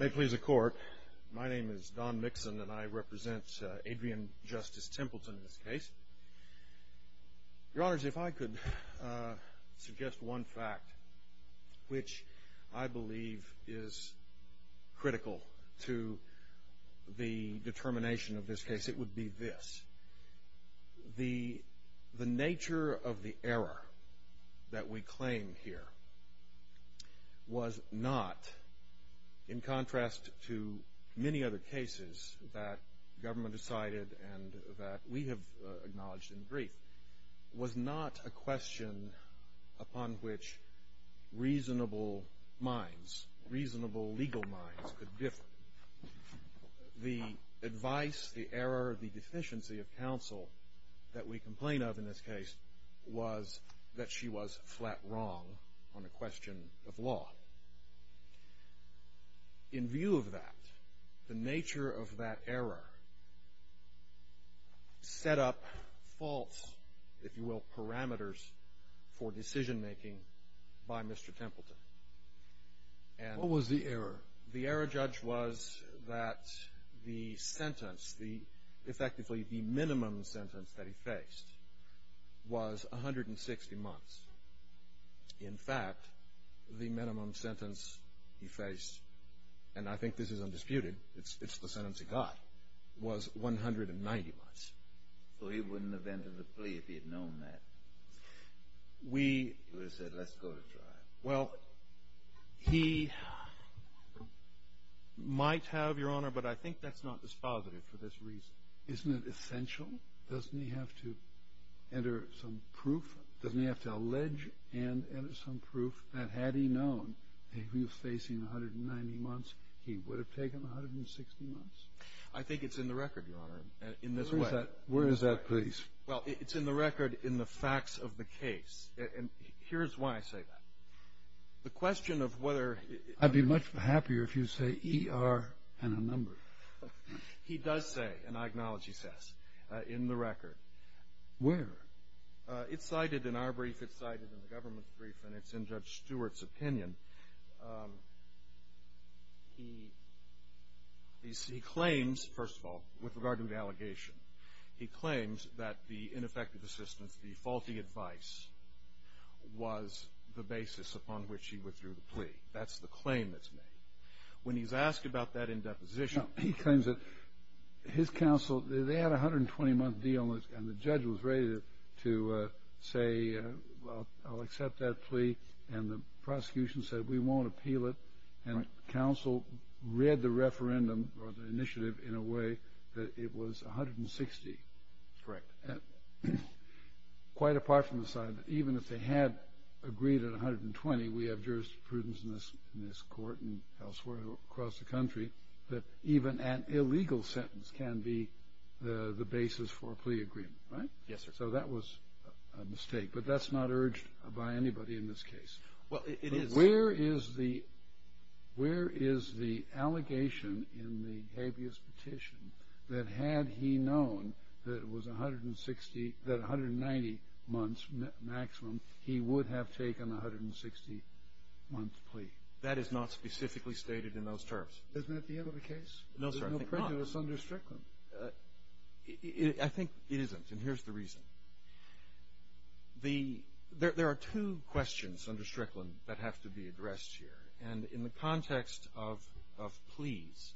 May it please the Court, my name is Don Mixon and I represent Adrian Justice Templeton in this case. Your Honors, if I could suggest one fact which I believe is critical to the determination of this case, it would be this. The nature of the error that we claim here was not, in contrast to many other cases that government decided and that we have acknowledged in brief, was not a question upon which reasonable minds, reasonable legal minds could differ. The advice, the error, the deficiency of counsel that we complain of in this case was that she was flat wrong on a question of law. In view of that, the nature of that error set up false, if you will, parameters for decision making by Mr. Templeton. What was the error? The error, Judge, was that the sentence, effectively the minimum sentence that he faced, was 160 months. In fact, the minimum sentence he faced, and I think this is undisputed, it's the sentence he got, was 190 months. So he wouldn't have entered the plea if he had known that. He would have said, let's go to trial. Well, he might have, Your Honor, but I think that's not dispositive for this reason. Isn't it essential? Doesn't he have to enter some proof? Doesn't he have to allege and enter some proof that had he known that he was facing 190 months, he would have taken 160 months? I think it's in the record, Your Honor, in this way. Where is that? Where is that please? Well, it's in the record in the facts of the case. And here's why I say that. The question of whether he- I'd be much happier if you say E-R and a number. He does say, and I acknowledge he says, in the record. Where? It's cited in our brief, it's cited in the government's brief, and it's in Judge Stewart's opinion. He claims, first of all, with regard to the allegation, he claims that the ineffective assistance, the faulty advice, was the basis upon which he withdrew the plea. That's the claim that's made. When he's asked about that in deposition- He claims that his counsel- They had a 120-month deal, and the judge was ready to say, well, I'll accept that plea. And the prosecution said, we won't appeal it. And counsel read the referendum or the initiative in a way that it was 160. Correct. Quite apart from the fact that even if they had agreed at 120, we have jurisprudence in this court and elsewhere across the country, that even an illegal sentence can be the basis for a plea agreement, right? Yes, sir. So that was a mistake, but that's not urged by anybody in this case. Well, it is- Where is the allegation in the habeas petition that had he known that it was 160, that 190 months maximum, he would have taken a 160-month plea? That is not specifically stated in those terms. Isn't that the end of the case? No, sir, I think not. There's no prejudice under Strickland. I think it isn't, and here's the reason. There are two questions under Strickland that have to be addressed here. And in the context of pleas,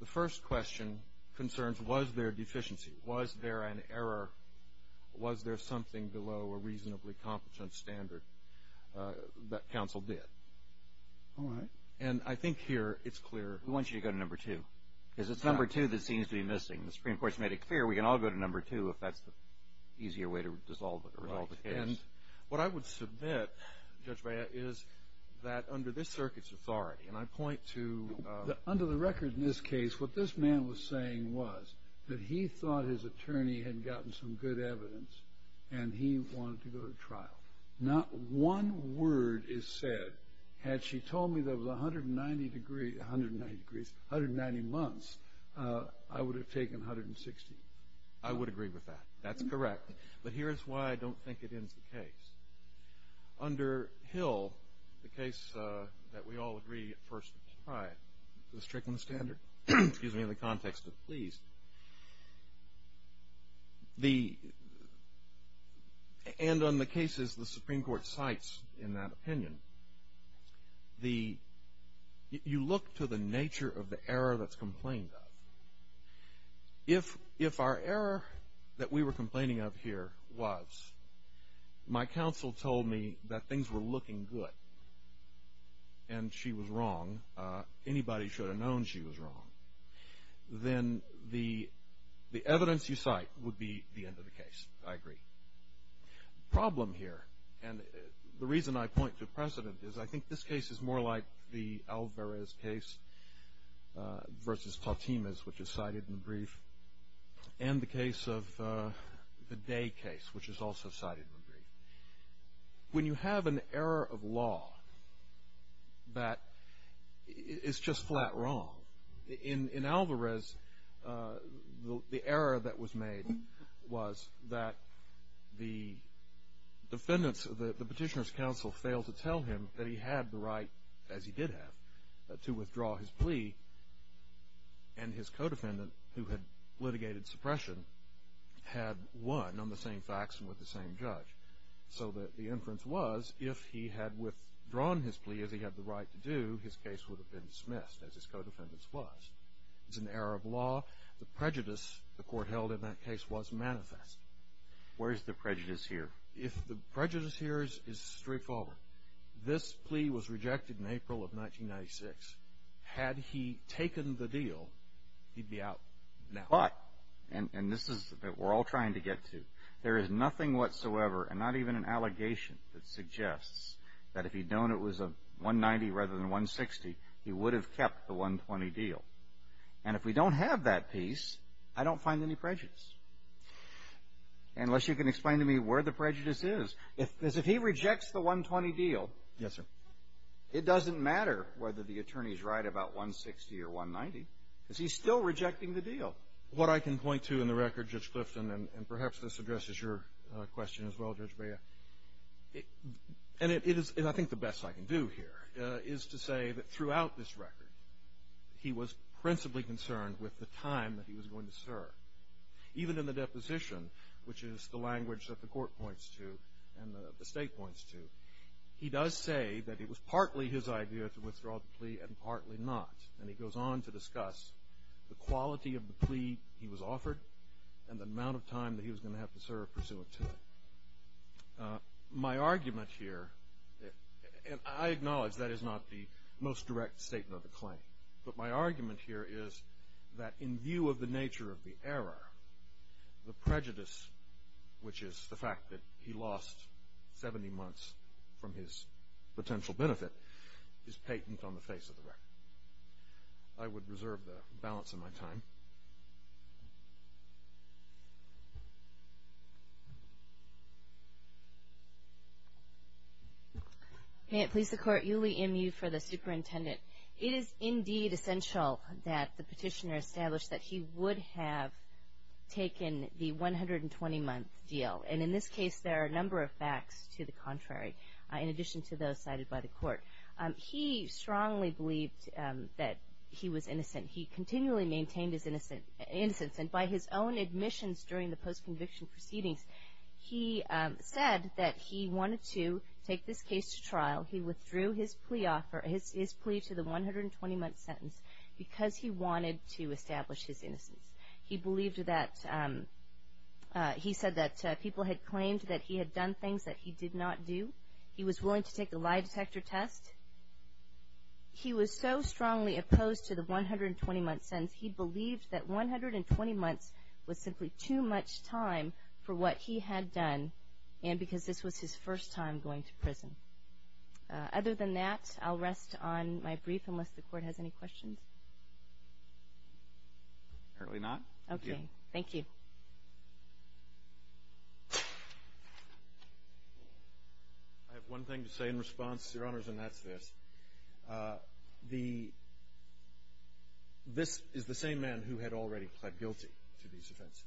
the first question concerns, was there a deficiency? Was there an error? Was there something below a reasonably competent standard that counsel did? All right. And I think here it's clear- We want you to go to number two, because it's number two that seems to be missing. The Supreme Court has made it clear we can all go to number two if that's the easier way to resolve the case. What I would submit, Judge Baya, is that under this circuit's authority, and I point to- Under the record in this case, what this man was saying was that he thought his attorney had gotten some good evidence, not one word is said. Had she told me there was 190 months, I would have taken 160. I would agree with that. That's correct. But here's why I don't think it ends the case. Under Hill, the case that we all agree at first tried, the Strickland standard, in the context of pleas, and on the cases the Supreme Court cites in that opinion, you look to the nature of the error that's complained of. If our error that we were complaining of here was my counsel told me that things were looking good and she was wrong, anybody should have known she was wrong, then the evidence you cite would be the end of the case. I agree. The problem here, and the reason I point to precedent, is I think this case is more like the Alvarez case versus Tautemez, which is cited in the brief, and the case of the Day case, which is also cited in the brief. When you have an error of law that is just flat wrong, in Alvarez, the error that was made was that the petitioner's counsel failed to tell him that he had the right, as he did have, to withdraw his plea, and his co-defendant, who had litigated suppression, had won on the same facts and with the same judge. So that the inference was, if he had withdrawn his plea as he had the right to do, his case would have been dismissed, as his co-defendant's was. It's an error of law. The prejudice the court held in that case was manifest. Where is the prejudice here? The prejudice here is straightforward. This plea was rejected in April of 1996. Had he taken the deal, he'd be out now. But, and this is what we're all trying to get to, there is nothing whatsoever, and not even an allegation, that suggests that if he'd known it was a 190 rather than 160, he would have kept the 120 deal. And if we don't have that piece, I don't find any prejudice. Unless you can explain to me where the prejudice is. Because if he rejects the 120 deal. Yes, sir. It doesn't matter whether the attorney's right about 160 or 190. Because he's still rejecting the deal. What I can point to in the record, Judge Clifton, and perhaps this addresses your question as well, Judge Bea, and it is, I think, the best I can do here, is to say that throughout this record, he was principally concerned with the time that he was going to serve. Even in the deposition, which is the language that the court points to and the state points to, he does say that it was partly his idea to withdraw the plea and partly not. And he goes on to discuss the quality of the plea he was offered and the amount of time that he was going to have to serve pursuant to it. My argument here, and I acknowledge that is not the most direct statement of the claim, but my argument here is that in view of the nature of the error, the prejudice, which is the fact that he lost 70 months from his potential benefit, is patent on the face of the record. I would reserve the balance of my time. May it please the Court. Yuli M. Yu for the superintendent. It is indeed essential that the petitioner establish that he would have taken the 120-month deal. And in this case, there are a number of facts to the contrary, in addition to those cited by the court. He strongly believed that he was innocent. He continually maintained his innocence. And by his own admissions during the post-conviction proceedings, he withdrew his plea to the 120-month sentence because he wanted to establish his innocence. He said that people had claimed that he had done things that he did not do. He was willing to take a lie detector test. He was so strongly opposed to the 120-month sentence, he believed that 120 months was simply too much time for what he had done and because this was his first time going to prison. Other than that, I'll rest on my brief, unless the Court has any questions. Apparently not. Okay. Thank you. I have one thing to say in response, Your Honors, and that's this. This is the same man who had already pled guilty to these offenses.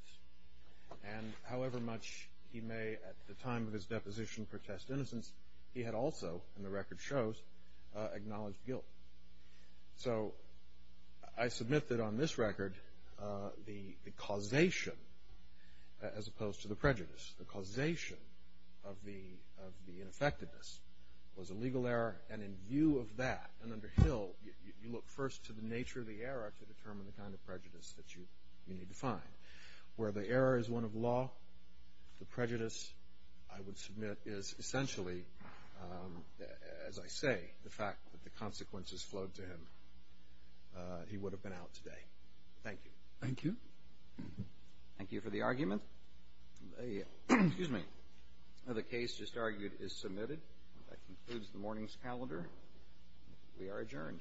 And however much he may, at the time of his deposition, protest innocence, he had also, and the record shows, acknowledged guilt. So I submit that on this record, the causation, as opposed to the prejudice, the causation of the ineffectiveness was a legal error. And in view of that, and under Hill, you look first to the nature of the error to determine the kind of prejudice that you need to find. Where the error is one of law, the prejudice, I would submit, is essentially, as I say, the fact that the consequences flowed to him. He would have been out today. Thank you. Thank you. Thank you for the argument. The case just argued is submitted. That concludes the morning's calendar. We are adjourned.